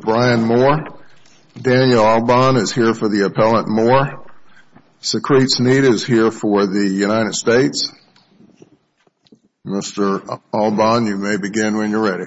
Daniel Alban is here for the Appellant Moore. Secrete Sneed is here for the United States. Mr. Alban, you may begin when you're ready. Mr. Alban, you may begin when you're ready.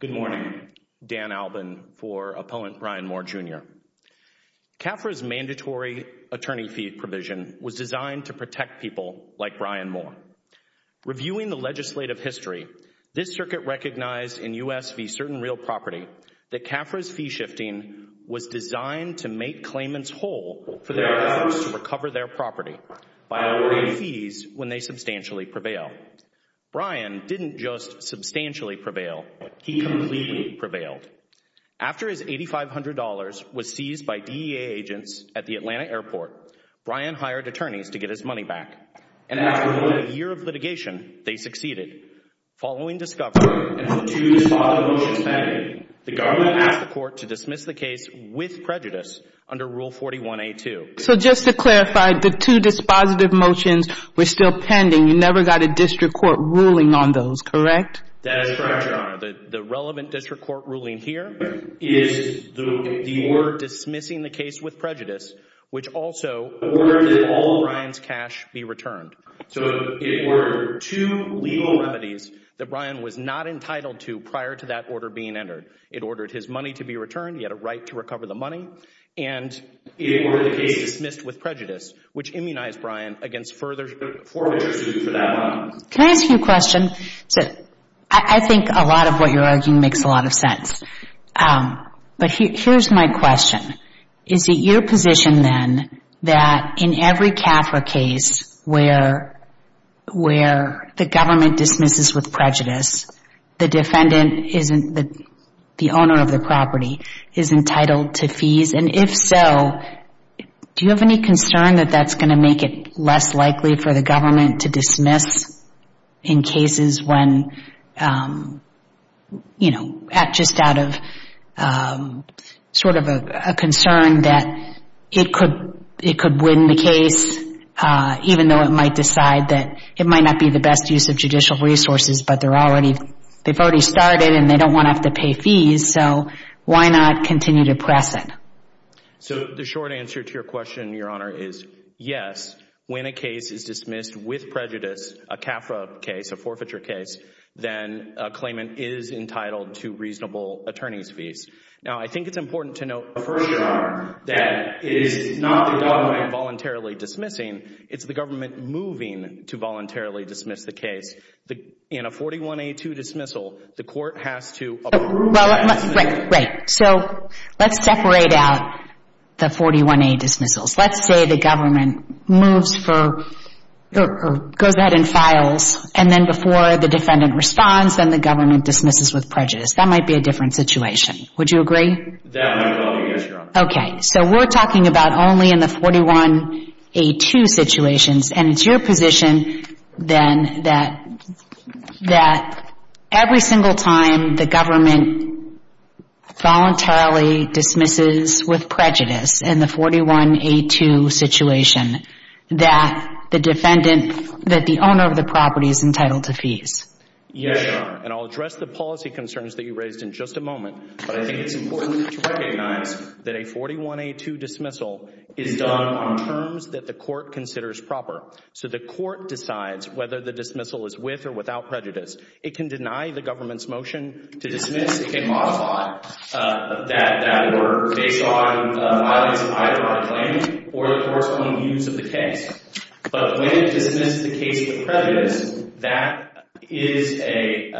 Good morning. Dan Alban for Appellant Brian Moore Jr. CAFRA's mandatory attorney fee provision was designed to protect people like Brian Moore. Reviewing the legislative history, this circuit recognized in U.S. v. Certain Real Property that CAFRA's fee shifting was designed to make claimants whole for their efforts to recover their property by awarding fees when they substantially prevail. Brian didn't just substantially prevail, he completely prevailed. After his $8,500 was seized by DEA agents at the Atlanta airport, Brian hired attorneys to get his money back. And after a year of litigation, they succeeded. Following discovery and the two dispositive motions pending, the government asked the court to dismiss the case with prejudice under Rule 41A2. So just to clarify, the two dispositive motions were still pending. You never got a district court ruling on those, correct? That is correct, Your Honor. The relevant district court ruling here is the word dismissing the case with prejudice, which also ordered that all of Brian's cash be returned. So it were two legal remedies that Brian was not entitled to prior to that order being entered. It ordered his money to be returned. He had a right to recover the money. It ordered the case dismissed with prejudice, which immunized Brian against further forfeiture suits for that month. Can I ask you a question? I think a lot of what you're arguing makes a lot of sense. But here's my question. Is it your position then that in every CAFRA case where the government dismisses with prejudice, the defendant, the owner of the property, is entitled to fees? And if so, do you have any concern that that's going to make it less likely for the government to dismiss in cases when, you know, just out of sort of a concern that it could win the case, even though it might decide that it might not be the best use of judicial resources but they've already started and they don't want to have to pay fees, so why not continue to press it? So the short answer to your question, Your Honor, is yes. When a case is dismissed with prejudice, a CAFRA case, a forfeiture case, then a claimant is entitled to reasonable attorney's fees. Now, I think it's important to note for sure that it is not the government voluntarily dismissing. It's the government moving to voluntarily dismiss the case. In a 41A2 dismissal, the court has to approve that dismissal. Right, right. So let's separate out the 41A dismissals. Let's say the government moves for or goes ahead and files, and then before the defendant responds, then the government dismisses with prejudice. That might be a different situation. Would you agree? That might be the only issue, Your Honor. Okay. So we're talking about only in the 41A2 situations, and it's your position then that every single time the government voluntarily dismisses with prejudice in the 41A2 situation that the defendant, that the owner of the property is entitled to fees. Yes, Your Honor, and I'll address the policy concerns that you raised in just a moment, but I think it's important to recognize that a 41A2 dismissal is done on terms that the court considers proper. So the court decides whether the dismissal is with or without prejudice. It can deny the government's motion to dismiss. It can modify that order based on violations of either our claim or the corresponding views of the case. But when it dismisses the case with prejudice, that is a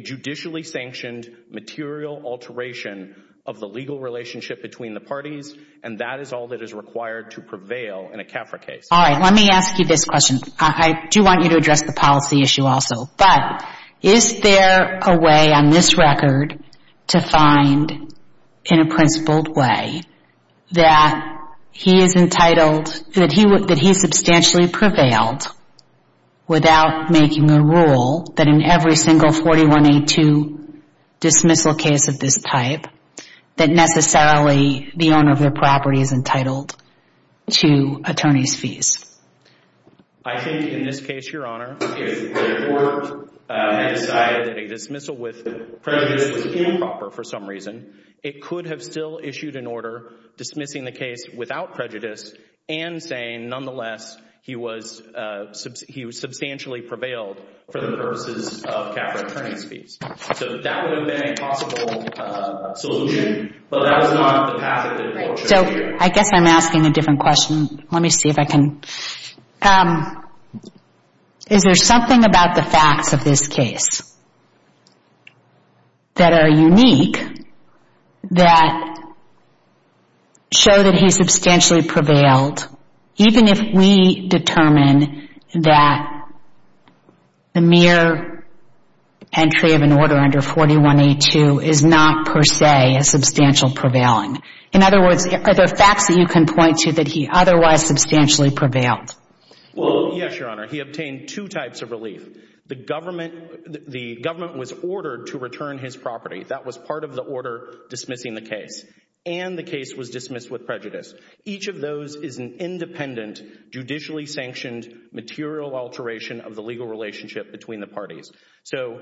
judicially sanctioned material alteration of the legal relationship between the parties, and that is all that is required to prevail in a CAFRA case. All right, let me ask you this question. I do want you to address the policy issue also, but is there a way on this record to find in a principled way that he is entitled, that he substantially prevailed without making a rule that in every single 41A2 dismissal case of this type that necessarily the owner of the property is entitled to attorney's fees? I think in this case, Your Honor, if the court had decided that a dismissal with prejudice was improper for some reason, it could have still issued an order dismissing the case without prejudice and saying nonetheless he was substantially prevailed for the purposes of CAFRA attorney's fees. So that would have been a possible solution, but that was not the path that the court chose. So I guess I'm asking a different question. Let me see if I can. Is there something about the facts of this case that are unique that show that he substantially prevailed, even if we determine that the mere entry of an order under 41A2 is not per se a substantial prevailing? In other words, are there facts that you can point to that he otherwise substantially prevailed? Well, yes, Your Honor. He obtained two types of relief. The government was ordered to return his property. That was part of the order dismissing the case, and the case was dismissed with prejudice. Each of those is an independent, judicially sanctioned material alteration of the legal relationship between the parties. So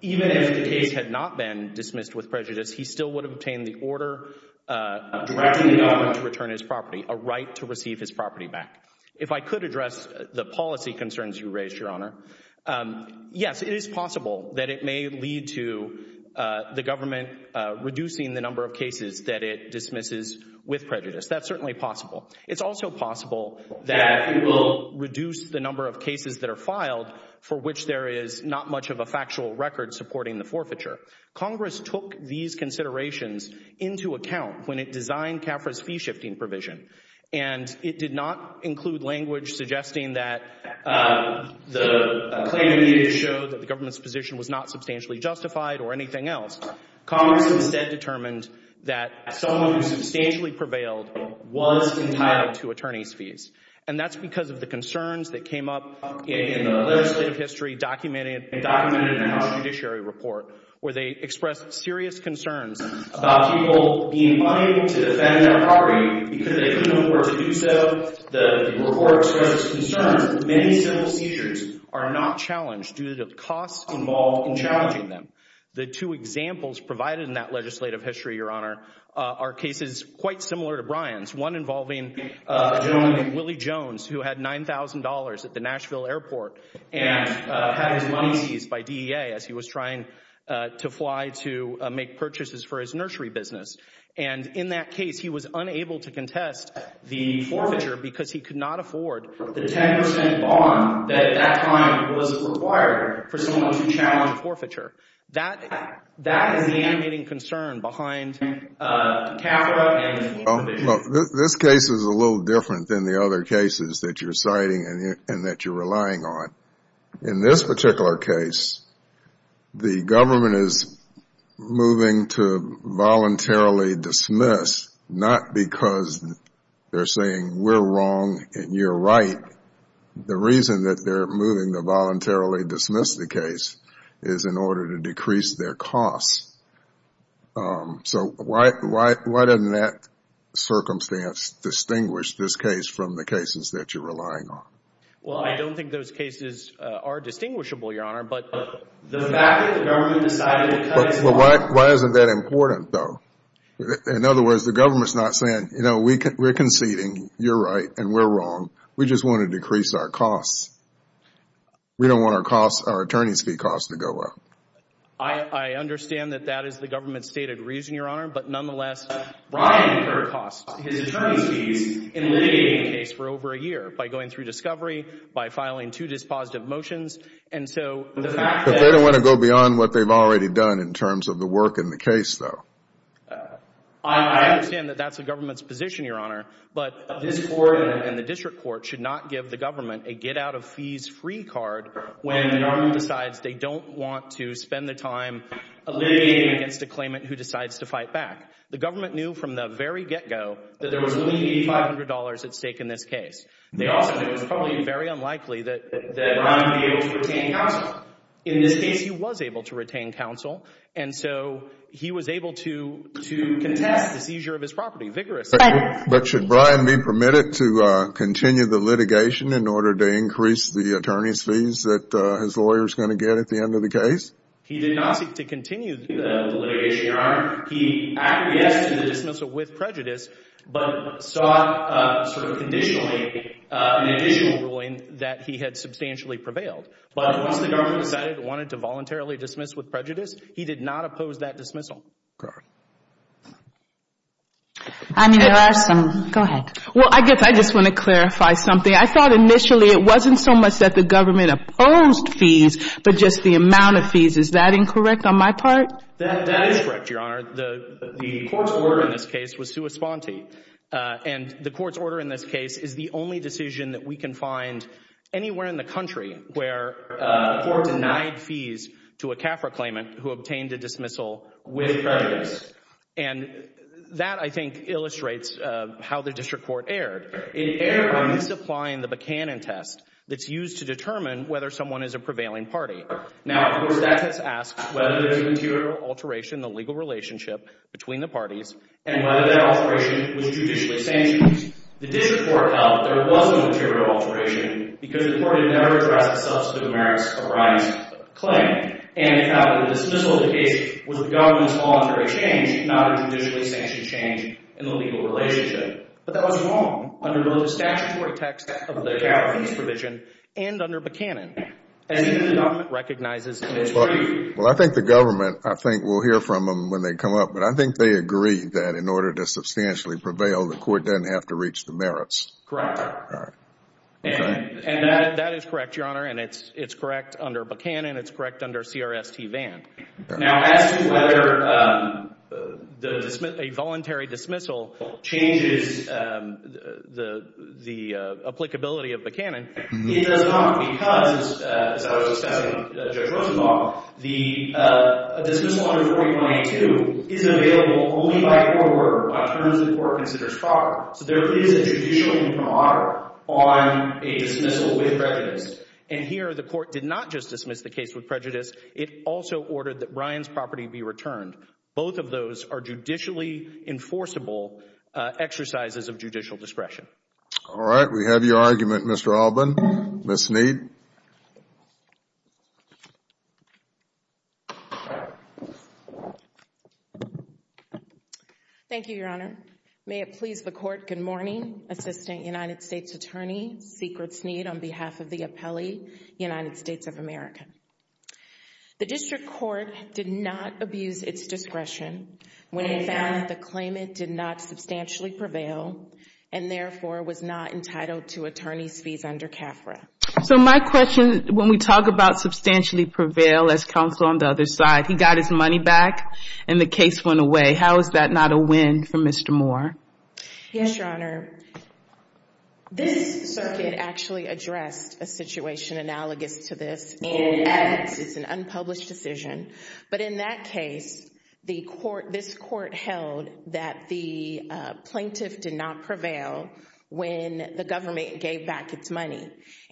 even if the case had not been dismissed with prejudice, he still would have obtained the order directing the government to return his property, a right to receive his property back. If I could address the policy concerns you raised, Your Honor, yes, it is possible that it may lead to the government reducing the number of cases that it dismisses with prejudice. That's certainly possible. It's also possible that it will reduce the number of cases that are filed for which there is not much of a factual record supporting the forfeiture. Congress took these considerations into account when it designed CAFRA's fee-shifting provision, and it did not include language suggesting that the claim needed to show that the government's position was not substantially justified or anything else. Congress instead determined that someone who substantially prevailed was entitled to attorney's fees, and that's because of the concerns that came up in the legislative history documented in the House Judiciary Report where they expressed serious concerns about people being unable to defend their property because they couldn't afford to do so. The report expressed concerns that many civil seizures are not challenged due to the costs involved in challenging them. The two examples provided in that legislative history, Your Honor, are cases quite similar to Brian's, one involving a gentleman named Willie Jones who had $9,000 at the Nashville airport and had his money seized by DEA as he was trying to fly to make purchases for his nursery business. And in that case, he was unable to contest the forfeiture because he could not afford the 10% bond that at that time was required for someone to challenge a forfeiture. That is the animating concern behind CAFRA and the fee-shifting provision. This case is a little different than the other cases that you're citing and that you're relying on. In this particular case, the government is moving to voluntarily dismiss, not because they're saying we're wrong and you're right. The reason that they're moving to voluntarily dismiss the case is in order to decrease their costs. So why doesn't that circumstance distinguish this case from the cases that you're relying on? Well, I don't think those cases are distinguishable, Your Honor, but the fact that the government decided to cut his money. But why isn't that important, though? In other words, the government's not saying, you know, we're conceding, you're right, and we're wrong. We just want to decrease our costs. We don't want our costs, our attorney's fee costs, to go up. I understand that that is the government's stated reason, Your Honor, but nonetheless, Brian incurred costs, his attorney's fees, in litigating the case for over a year by going through discovery, by filing two dispositive motions. And so the fact that they don't want to go beyond what they've already done in terms of the work in the case, though. I understand that that's the government's position, Your Honor. But this Court and the district court should not give the government a get-out-of-fees-free card when an army decides they don't want to spend the time litigating against a claimant who decides to fight back. The government knew from the very get-go that there was only $8,500 at stake in this case. They also knew it was probably very unlikely that Brian would be able to retain counsel. In this case, he was able to retain counsel. And so he was able to contest the seizure of his property vigorously. But should Brian be permitted to continue the litigation in order to increase the attorney's fees that his lawyer is going to get at the end of the case? He did not seek to continue the litigation, Your Honor. He acquiesced to the dismissal with prejudice but sought sort of conditionally an additional ruling that he had substantially prevailed. But once the government decided it wanted to voluntarily dismiss with prejudice, he did not oppose that dismissal. I mean, there are some. Go ahead. Well, I guess I just want to clarify something. I thought initially it wasn't so much that the government opposed fees but just the amount of fees. Is that incorrect on my part? That is correct, Your Honor. The court's order in this case was sua sponte. And the court's order in this case is the only decision that we can find anywhere in the country where a court denied fees to a CAFRA claimant who obtained a dismissal with prejudice. And that, I think, illustrates how the district court erred. It erred by misapplying the Buchanan test that's used to determine whether someone is a prevailing party. Now, of course, that test asks whether there's a material alteration in the legal relationship between the parties and whether that alteration was judicially sanctioned. The district court held that there was no material alteration because the court had never addressed the substantive merits of Ryan's claim. And the dismissal of the case was a government's voluntary change, not a judicially sanctioned change in the legal relationship. But that was wrong under both the statutory text of the CAFRA fees provision and under Buchanan. And the government recognizes that it's true. Well, I think the government, I think we'll hear from them when they come up. But I think they agree that in order to substantially prevail, the court doesn't have to reach the merits. Correct. And that is correct, Your Honor. And it's correct under Buchanan. It's correct under CRST-VAN. Now, as to whether a voluntary dismissal changes the applicability of Buchanan, it does not. Because, as I was discussing with Judge Rosenbaum, the dismissal under 4892 is available only by court order, by terms the court considers proper. So there is a judicial imprimatur on a dismissal with prejudice. And here the court did not just dismiss the case with prejudice. It also ordered that Ryan's property be returned. Both of those are judicially enforceable exercises of judicial discretion. All right. We have your argument, Mr. Alban. Ms. Sneed. Thank you, Your Honor. May it please the court, good morning. Assistant United States Attorney, Secret Sneed, on behalf of the appellee, United States of America. The district court did not abuse its discretion when it found that the claimant did not substantially prevail and therefore was not entitled to attorney's fees under CAFRA. So my question, when we talk about substantially prevail as counsel on the other side, he got his money back and the case went away. How is that not a win for Mr. Moore? Yes, Your Honor. This circuit actually addressed a situation analogous to this, and it's an unpublished decision. But in that case, this court held that the plaintiff did not prevail when the government gave back its money.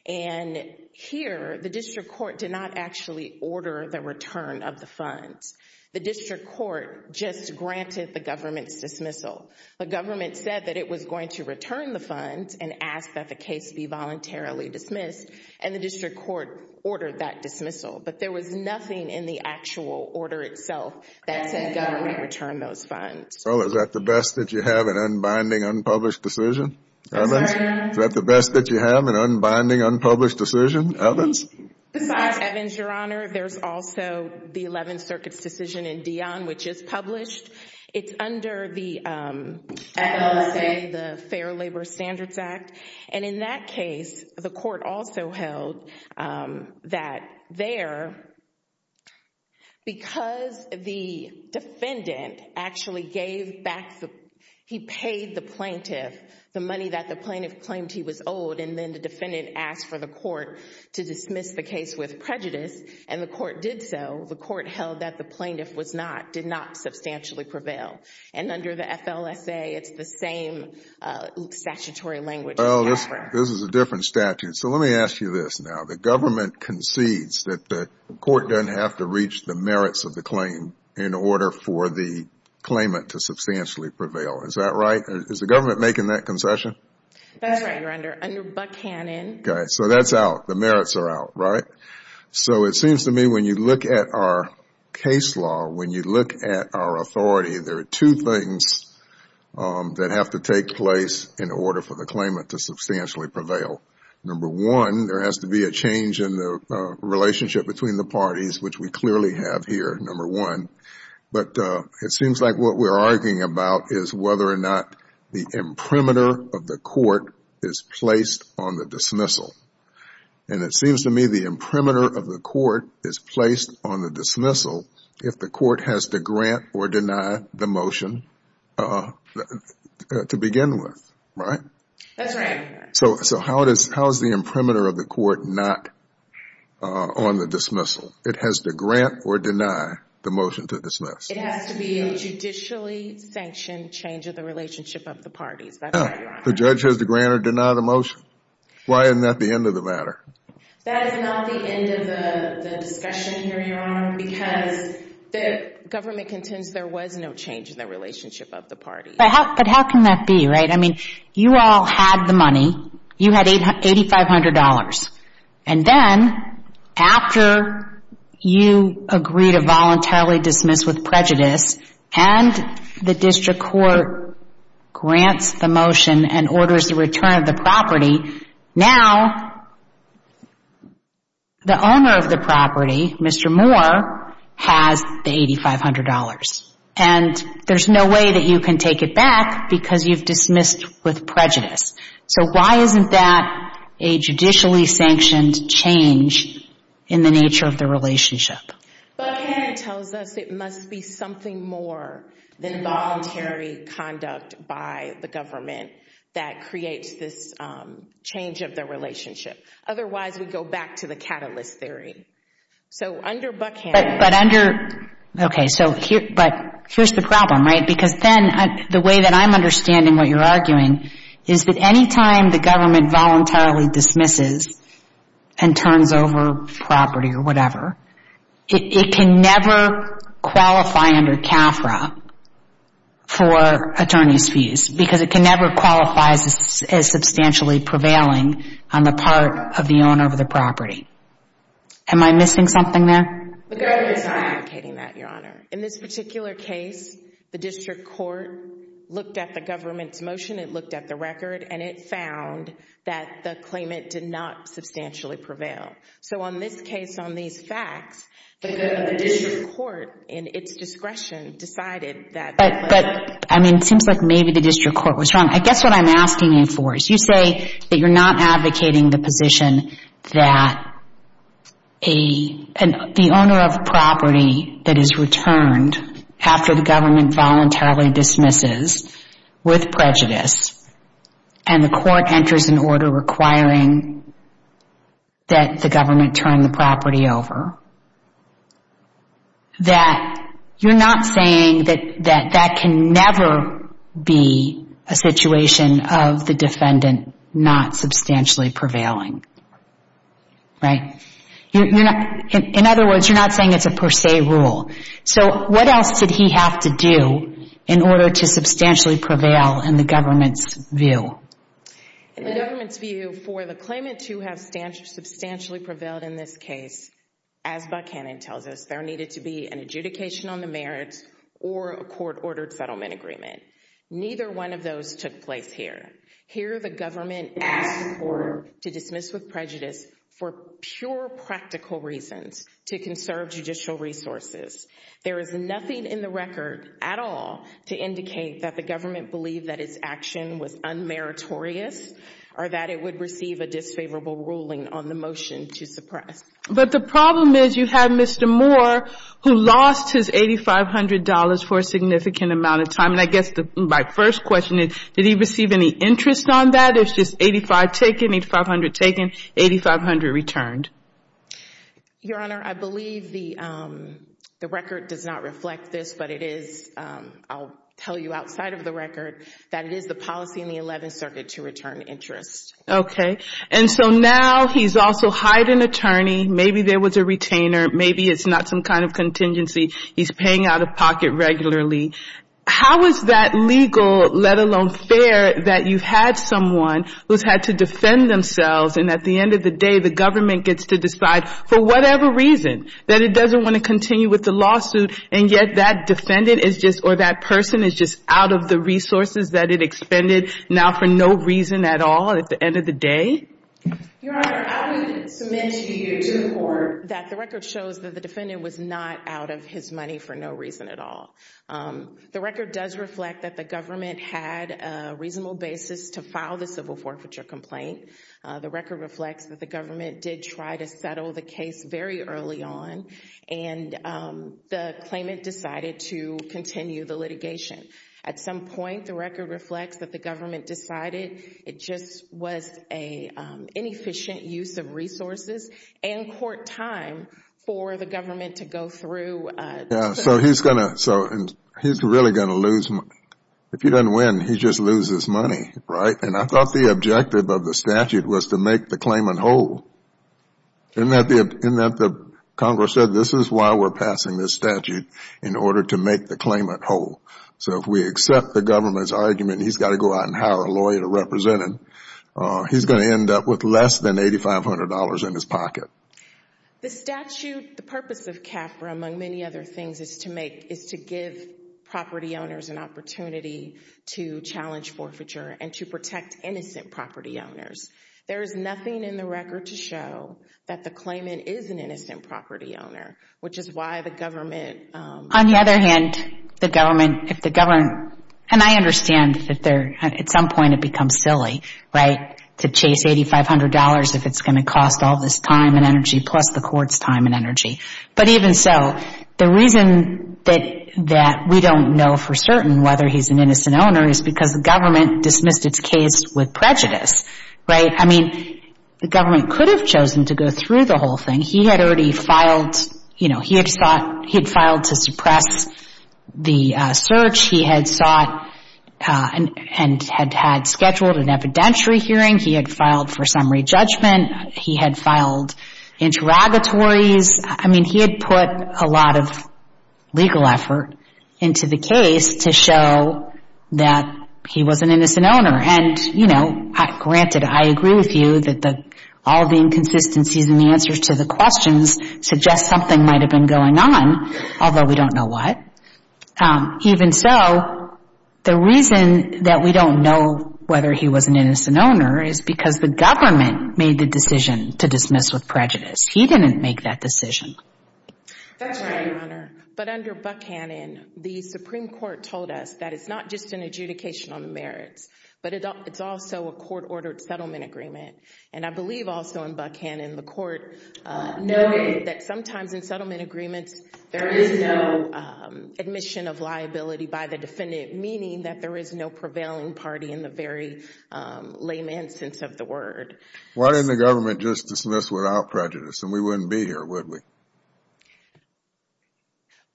And here the district court did not actually order the return of the funds. The district court just granted the government's dismissal. The government said that it was going to return the funds and ask that the case be voluntarily dismissed, and the district court ordered that dismissal. But there was nothing in the actual order itself that said government return those funds. Well, is that the best that you have, an unbinding, unpublished decision? Evans? Is that the best that you have, an unbinding, unpublished decision? Evans? Besides Evans, Your Honor, there's also the Eleventh Circuit's decision in Dionne, which is published. It's under the FLSA, the Fair Labor Standards Act. And in that case, the court also held that there, because the defendant actually gave back the—he paid the plaintiff the money that the plaintiff claimed he was owed, and then the defendant asked for the court to dismiss the case with prejudice, and the court did so. The court held that the plaintiff was not—did not substantially prevail. And under the FLSA, it's the same statutory language as ever. Well, this is a different statute. So let me ask you this now. The government concedes that the court doesn't have to reach the merits of the claim in order for the claimant to substantially prevail. Is that right? Is the government making that concession? That's right, Your Honor. Under Buchanan. Okay. So that's out. The merits are out, right? So it seems to me when you look at our case law, when you look at our authority, there are two things that have to take place in order for the claimant to substantially prevail. Number one, there has to be a change in the relationship between the parties, which we clearly have here, number one. But it seems like what we're arguing about is whether or not the imprimatur of the court is placed on the dismissal. And it seems to me the imprimatur of the court is placed on the dismissal if the court has to grant or deny the motion to begin with, right? That's right. So how is the imprimatur of the court not on the dismissal? It has to grant or deny the motion to dismiss. It has to be a judicially sanctioned change of the relationship of the parties. The judge has to grant or deny the motion. Why isn't that the end of the matter? That is not the end of the discussion here, Your Honor, because the government contends there was no change in the relationship of the parties. But how can that be, right? I mean, you all had the money. You had $8,500. And then after you agree to voluntarily dismiss with prejudice and the district court grants the motion and orders the return of the property, now the owner of the property, Mr. Moore, has the $8,500. And there's no way that you can take it back because you've dismissed with prejudice. So why isn't that a judicially sanctioned change in the nature of the relationship? Buckhannon tells us it must be something more than voluntary conduct by the government that creates this change of the relationship. Otherwise, we go back to the catalyst theory. So under Buckhannon — But under — okay, so here's the problem, right? Because then the way that I'm understanding what you're arguing is that any time the government voluntarily dismisses and turns over property or whatever, it can never qualify under CAFRA for attorney's fees because it can never qualify as substantially prevailing on the part of the owner of the property. Am I missing something there? The government's not advocating that, Your Honor. In this particular case, the district court looked at the government's motion, it looked at the record, and it found that the claimant did not substantially prevail. So on this case, on these facts, the district court, in its discretion, decided that — But, I mean, it seems like maybe the district court was wrong. I guess what I'm asking you for is you say that you're not advocating the position that a — the owner of property that is returned after the government voluntarily dismisses with prejudice and the court enters an order requiring that the government turn the property over, that you're not saying that that can never be a situation of the defendant not substantially prevailing, right? In other words, you're not saying it's a per se rule. So what else did he have to do in order to substantially prevail in the government's view? In the government's view, for the claimant to have substantially prevailed in this case, as Buckhannon tells us, there needed to be an adjudication on the merits or a court-ordered settlement agreement. Neither one of those took place here. Here, the government asked the court to dismiss with prejudice for pure practical reasons to conserve judicial resources. There is nothing in the record at all to indicate that the government believed that its action was unmeritorious or that it would receive a disfavorable ruling on the motion to suppress. But the problem is you have Mr. Moore, who lost his $8,500 for a significant amount of time. And I guess my first question is, did he receive any interest on that? It's just $8,500 taken, $8,500 taken, $8,500 returned. Your Honor, I believe the record does not reflect this, but I'll tell you outside of the record that it is the policy in the 11th Circuit to return interest. Okay. And so now he's also hired an attorney. Maybe there was a retainer. Maybe it's not some kind of contingency. He's paying out of pocket regularly. How is that legal, let alone fair, that you've had someone who's had to defend themselves, and at the end of the day the government gets to decide for whatever reason that it doesn't want to continue with the lawsuit, and yet that defendant is just or that person is just out of the resources that it expended, now for no reason at all at the end of the day? Your Honor, I would submit to you to the court that the record shows that the defendant was not out of his money for no reason at all. The record does reflect that the government had a reasonable basis to file the civil forfeiture complaint. The record reflects that the government did try to settle the case very early on, and the claimant decided to continue the litigation. At some point, the record reflects that the government decided it just was an inefficient use of resources and court time for the government to go through. Yeah, so he's really going to lose money. If he doesn't win, he just loses money, right? And I thought the objective of the statute was to make the claimant whole, in that Congress said this is why we're passing this statute, in order to make the claimant whole. So if we accept the government's argument he's got to go out and hire a lawyer to represent him, he's going to end up with less than $8,500 in his pocket. The purpose of CAFRA, among many other things, is to give property owners an opportunity to challenge forfeiture and to protect innocent property owners. There is nothing in the record to show that the claimant is an innocent property owner, which is why the government— On the other hand, the government—and I understand that at some point it becomes silly, right, to chase $8,500 if it's going to cost all this time and energy, plus the court's time and energy. But even so, the reason that we don't know for certain whether he's an innocent owner is because the government dismissed its case with prejudice, right? I mean, the government could have chosen to go through the whole thing. He had already filed—you know, he had filed to suppress the search. He had sought and had scheduled an evidentiary hearing. He had filed for summary judgment. He had filed interrogatories. I mean, he had put a lot of legal effort into the case to show that he was an innocent owner. And, you know, granted, I agree with you that all the inconsistencies in the answers to the questions suggest something might have been going on, although we don't know what. Even so, the reason that we don't know whether he was an innocent owner is because the government made the decision to dismiss with prejudice. He didn't make that decision. That's right, Your Honor. But under Buckhannon, the Supreme Court told us that it's not just an adjudication on the merits, but it's also a court-ordered settlement agreement. And I believe also in Buckhannon the court noted that sometimes in settlement agreements there is no admission of liability by the defendant, meaning that there is no prevailing party in the very layman sense of the word. Why didn't the government just dismiss without prejudice and we wouldn't be here, would we?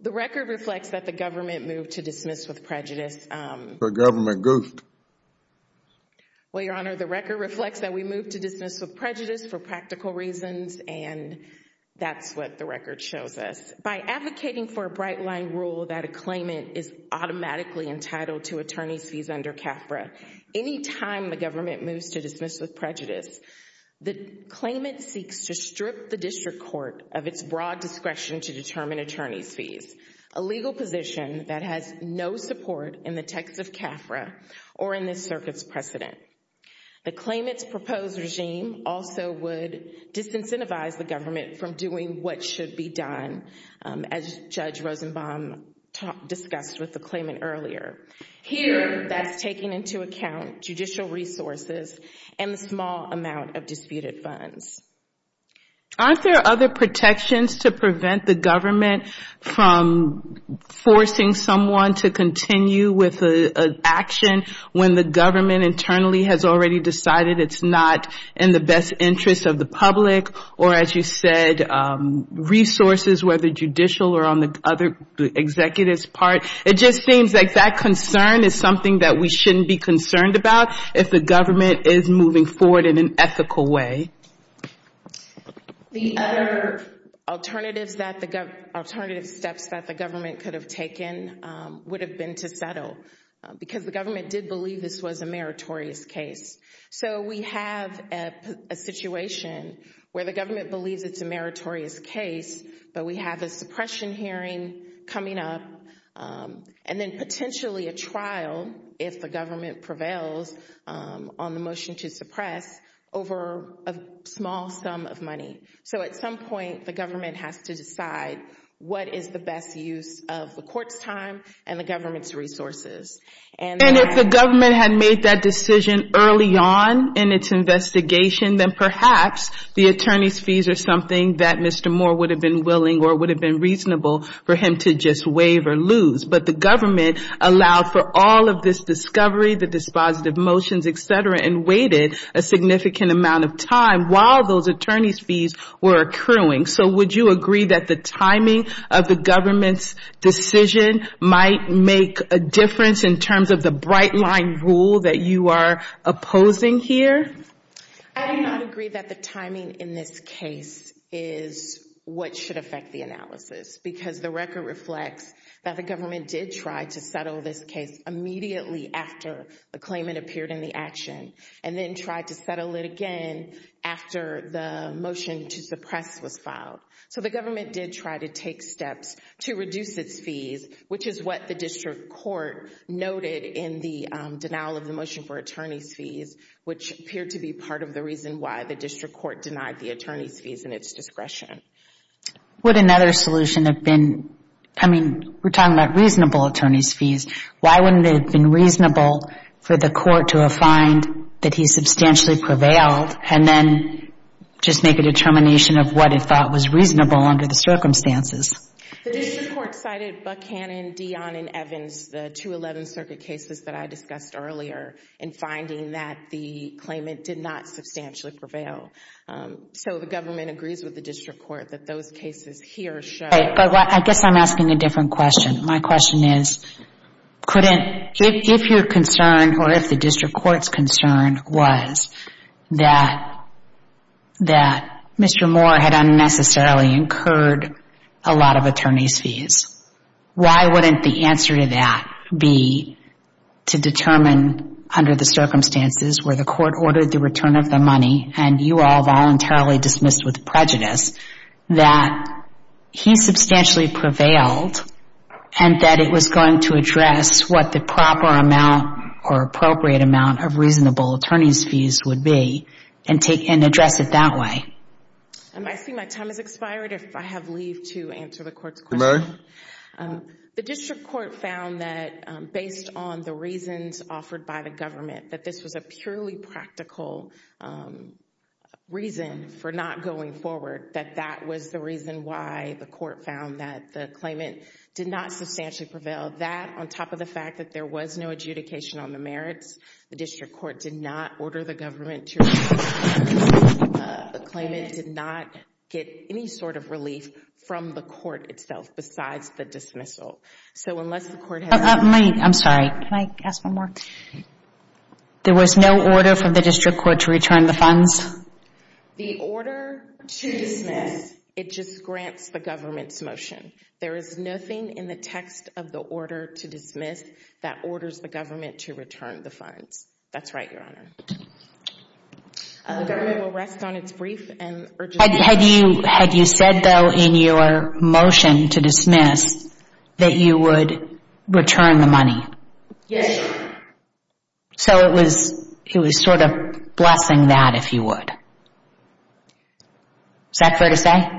The record reflects that the government moved to dismiss with prejudice. The government goofed. Well, Your Honor, the record reflects that we moved to dismiss with prejudice for practical reasons, and that's what the record shows us. By advocating for a bright-line rule that a claimant is automatically entitled to attorney's fees under CAFRA, any time the government moves to dismiss with prejudice, the claimant seeks to strip the district court of its broad discretion to determine attorney's fees, a legal position that has no support in the text of CAFRA or in this circuit's precedent. The claimant's proposed regime also would disincentivize the government from doing what should be done, as Judge Rosenbaum discussed with the claimant earlier. Here, that's taking into account judicial resources and the small amount of disputed funds. Aren't there other protections to prevent the government from forcing someone to continue with an action when the government internally has already decided it's not in the best interest of the public, or as you said, resources, whether judicial or on the other executive's part? It just seems like that concern is something that we shouldn't be concerned about if the government is moving forward in an ethical way. The other alternative steps that the government could have taken would have been to settle, because the government did believe this was a meritorious case. So we have a situation where the government believes it's a meritorious case, but we have a suppression hearing coming up and then potentially a trial, if the government prevails on the motion to suppress, over a small sum of money. So at some point, the government has to decide what is the best use of the court's time and the government's resources. And if the government had made that decision early on in its investigation, then perhaps the attorney's fees are something that Mr. Moore would have been willing or would have been reasonable for him to just waive or lose. But the government allowed for all of this discovery, the dispositive motions, et cetera, and waited a significant amount of time while those attorney's fees were accruing. So would you agree that the timing of the government's decision might make a difference in terms of the bright-line rule that you are opposing here? I do not agree that the timing in this case is what should affect the analysis, because the record reflects that the government did try to settle this case immediately after the claimant appeared in the action, and then tried to settle it again after the motion to suppress was filed. So the government did try to take steps to reduce its fees, which is what the district court noted in the denial of the motion for attorney's fees, which appeared to be part of the reason why the district court denied the attorney's fees in its discretion. Would another solution have been, I mean, we're talking about reasonable attorney's fees. Why wouldn't it have been reasonable for the court to find that he substantially prevailed and then just make a determination of what it thought was reasonable under the circumstances? The district court cited Buckhannon, Dionne, and Evans, the two 11th Circuit cases that I discussed earlier, in finding that the claimant did not substantially prevail. So the government agrees with the district court that those cases here show. I guess I'm asking a different question. My question is, if your concern or if the district court's concern was that Mr. Moore had unnecessarily incurred a lot of attorney's fees, why wouldn't the answer to that be to determine under the circumstances where the court ordered the return of the money and you all voluntarily dismissed with prejudice that he substantially prevailed and that it was going to address what the proper amount or appropriate amount of reasonable attorney's fees would be and address it that way? I see my time has expired. If I have leave to answer the court's question. The district court found that, based on the reasons offered by the government, that this was a purely practical reason for not going forward, that that was the reason why the court found that the claimant did not substantially prevail. That, on top of the fact that there was no adjudication on the merits, the district court did not order the government to release the claimant, the claimant did not get any sort of relief from the court itself besides the dismissal. So unless the court has... I'm sorry, can I ask one more? There was no order from the district court to return the funds? The order to dismiss, it just grants the government's motion. There is nothing in the text of the order to dismiss that orders the government to return the funds. That's right, Your Honor. The government will rest on its brief and urgent duty. Had you said, though, in your motion to dismiss that you would return the money? Yes, Your Honor. So it was sort of blessing that, if you would. Is that fair to say?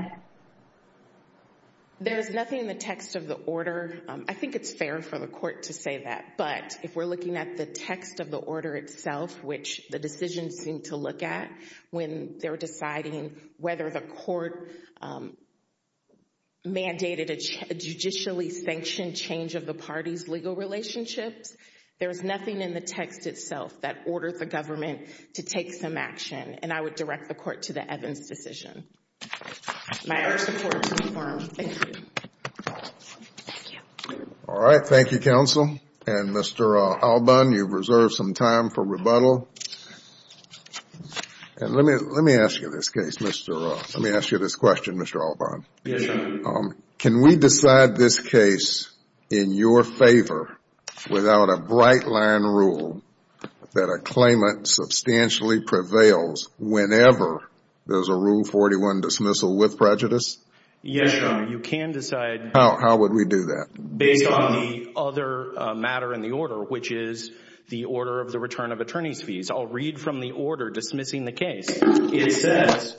There is nothing in the text of the order. I think it's fair for the court to say that, but if we're looking at the text of the order itself, which the decisions seem to look at, when they're deciding whether the court mandated a judicially sanctioned change of the party's legal relationships, there's nothing in the text itself that orders the government to take some action, and I would direct the court to the Evans decision. May I ask the court to confirm? Thank you. All right. Thank you, counsel. And, Mr. Alban, you've reserved some time for rebuttal. And let me ask you this question, Mr. Alban. Yes, Your Honor. Can we decide this case in your favor without a bright-line rule that a claimant substantially prevails whenever there's a Rule 41 dismissal with prejudice? Yes, Your Honor. You can decide. How would we do that? Based on the other matter in the order, which is the order of the return of attorney's fees. I'll read from the order dismissing the case. It says,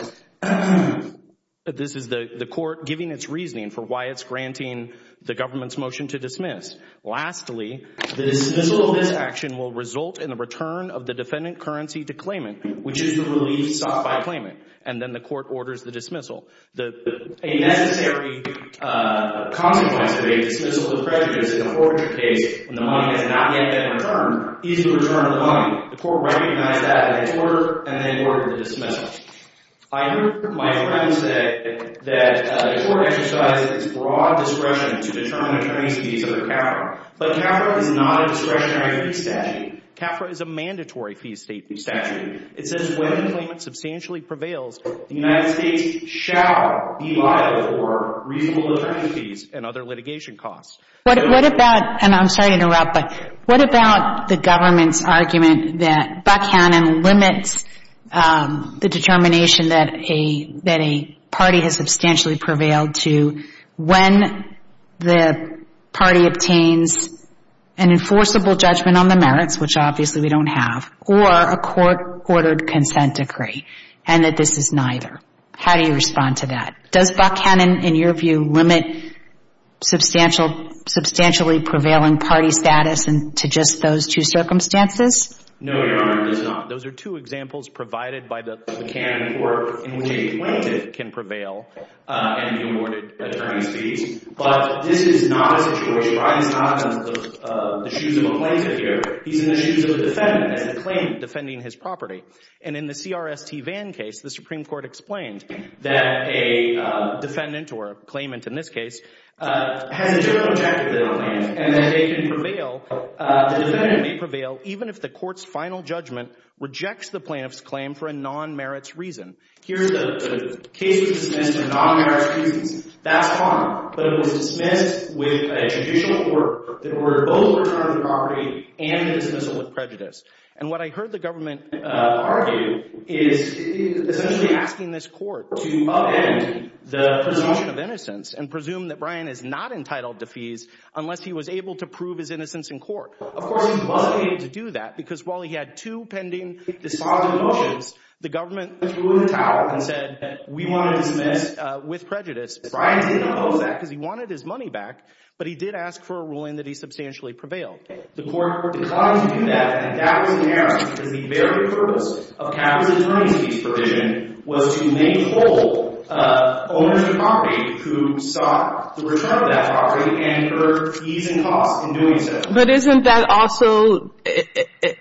this is the court giving its reasoning for why it's granting the government's motion to dismiss. Lastly, the dismissal of this action will result in the return of the defendant currency to claimant, which is the relief sought by a claimant. And then the court orders the dismissal. A necessary consequence of a dismissal with prejudice in a forgery case when the money has not yet been returned is the return of the money. The court recognized that in its order and then ordered the dismissal. I heard my friend say that the court exercises broad discretion to determine attorney's fees under CAFRA. But CAFRA is not a discretionary fee statute. CAFRA is a mandatory fee statute. It says when the claimant substantially prevails, the United States shall be liable for reasonable return of fees and other litigation costs. What about, and I'm sorry to interrupt, but what about the government's argument that Buckhannon limits the determination that a party has substantially prevailed to when the party obtains an enforceable judgment on the merits, which obviously we don't have, or a court-ordered consent decree, and that this is neither? How do you respond to that? Does Buckhannon, in your view, limit substantially prevailing party status to just those two circumstances? No, Your Honor, it does not. Those are two examples provided by the Buckhannon court in which a plaintiff can prevail and be awarded attorney's fees. But this is not a situation. Your Honor, he's not in the shoes of a plaintiff here. He's in the shoes of a defendant as a claimant defending his property. And in the C.R.S.T. Vann case, the Supreme Court explained that a defendant, or a claimant in this case, has a different objective than a plaintiff and that they can prevail, the defendant may prevail, even if the court's final judgment rejects the plaintiff's claim for a non-merits reason. Here, the case was dismissed for non-merits reasons. That's fine, but it was dismissed with a judicial report that ordered both a return of the property and a dismissal with prejudice. And what I heard the government argue is essentially asking this court to upend the presumption of innocence and presume that Brian is not entitled to fees unless he was able to prove his innocence in court. Of course, he wasn't able to do that because while he had two pending dispositive motions, the government threw in the towel and said that we want to dismiss with prejudice. Brian didn't oppose that because he wanted his money back, but he did ask for a ruling that he substantially prevailed. The court declined to do that and that was inerrant because the very purpose of capital attorneys' fees provision was to make whole owners of property who sought the return of that property and earned fees and costs in doing so. But isn't that also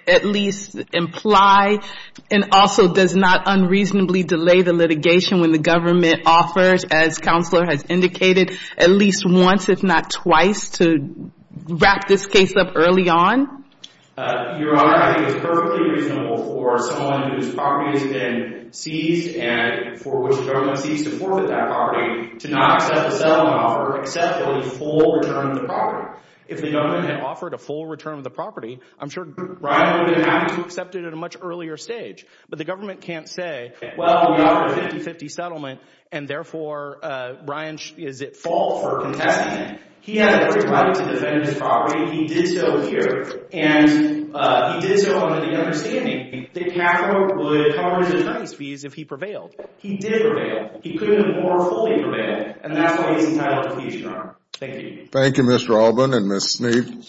at least imply and also does not unreasonably delay the litigation when the government offers, as Counselor has indicated, at least once if not twice to wrap this case up early on? Your Honor, I think it's perfectly reasonable for someone whose property has been seized and for which the government ceased to forfeit that property to not accept a settlement offer except for the full return of the property. If the government had offered a full return of the property, I'm sure Brian would have been happy to accept it at a much earlier stage. But the government can't say, well, we offer a 50-50 settlement and therefore Brian is at fault for contesting it. He had a great right to defend his property. He did so here and he did so under the understanding that capital would cover his attorneys' fees if he prevailed. He did prevail. He couldn't have more fully prevailed and that's why he's entitled to a petition, Your Honor. Thank you. Thank you, Mr. Alban and Ms. Sneed.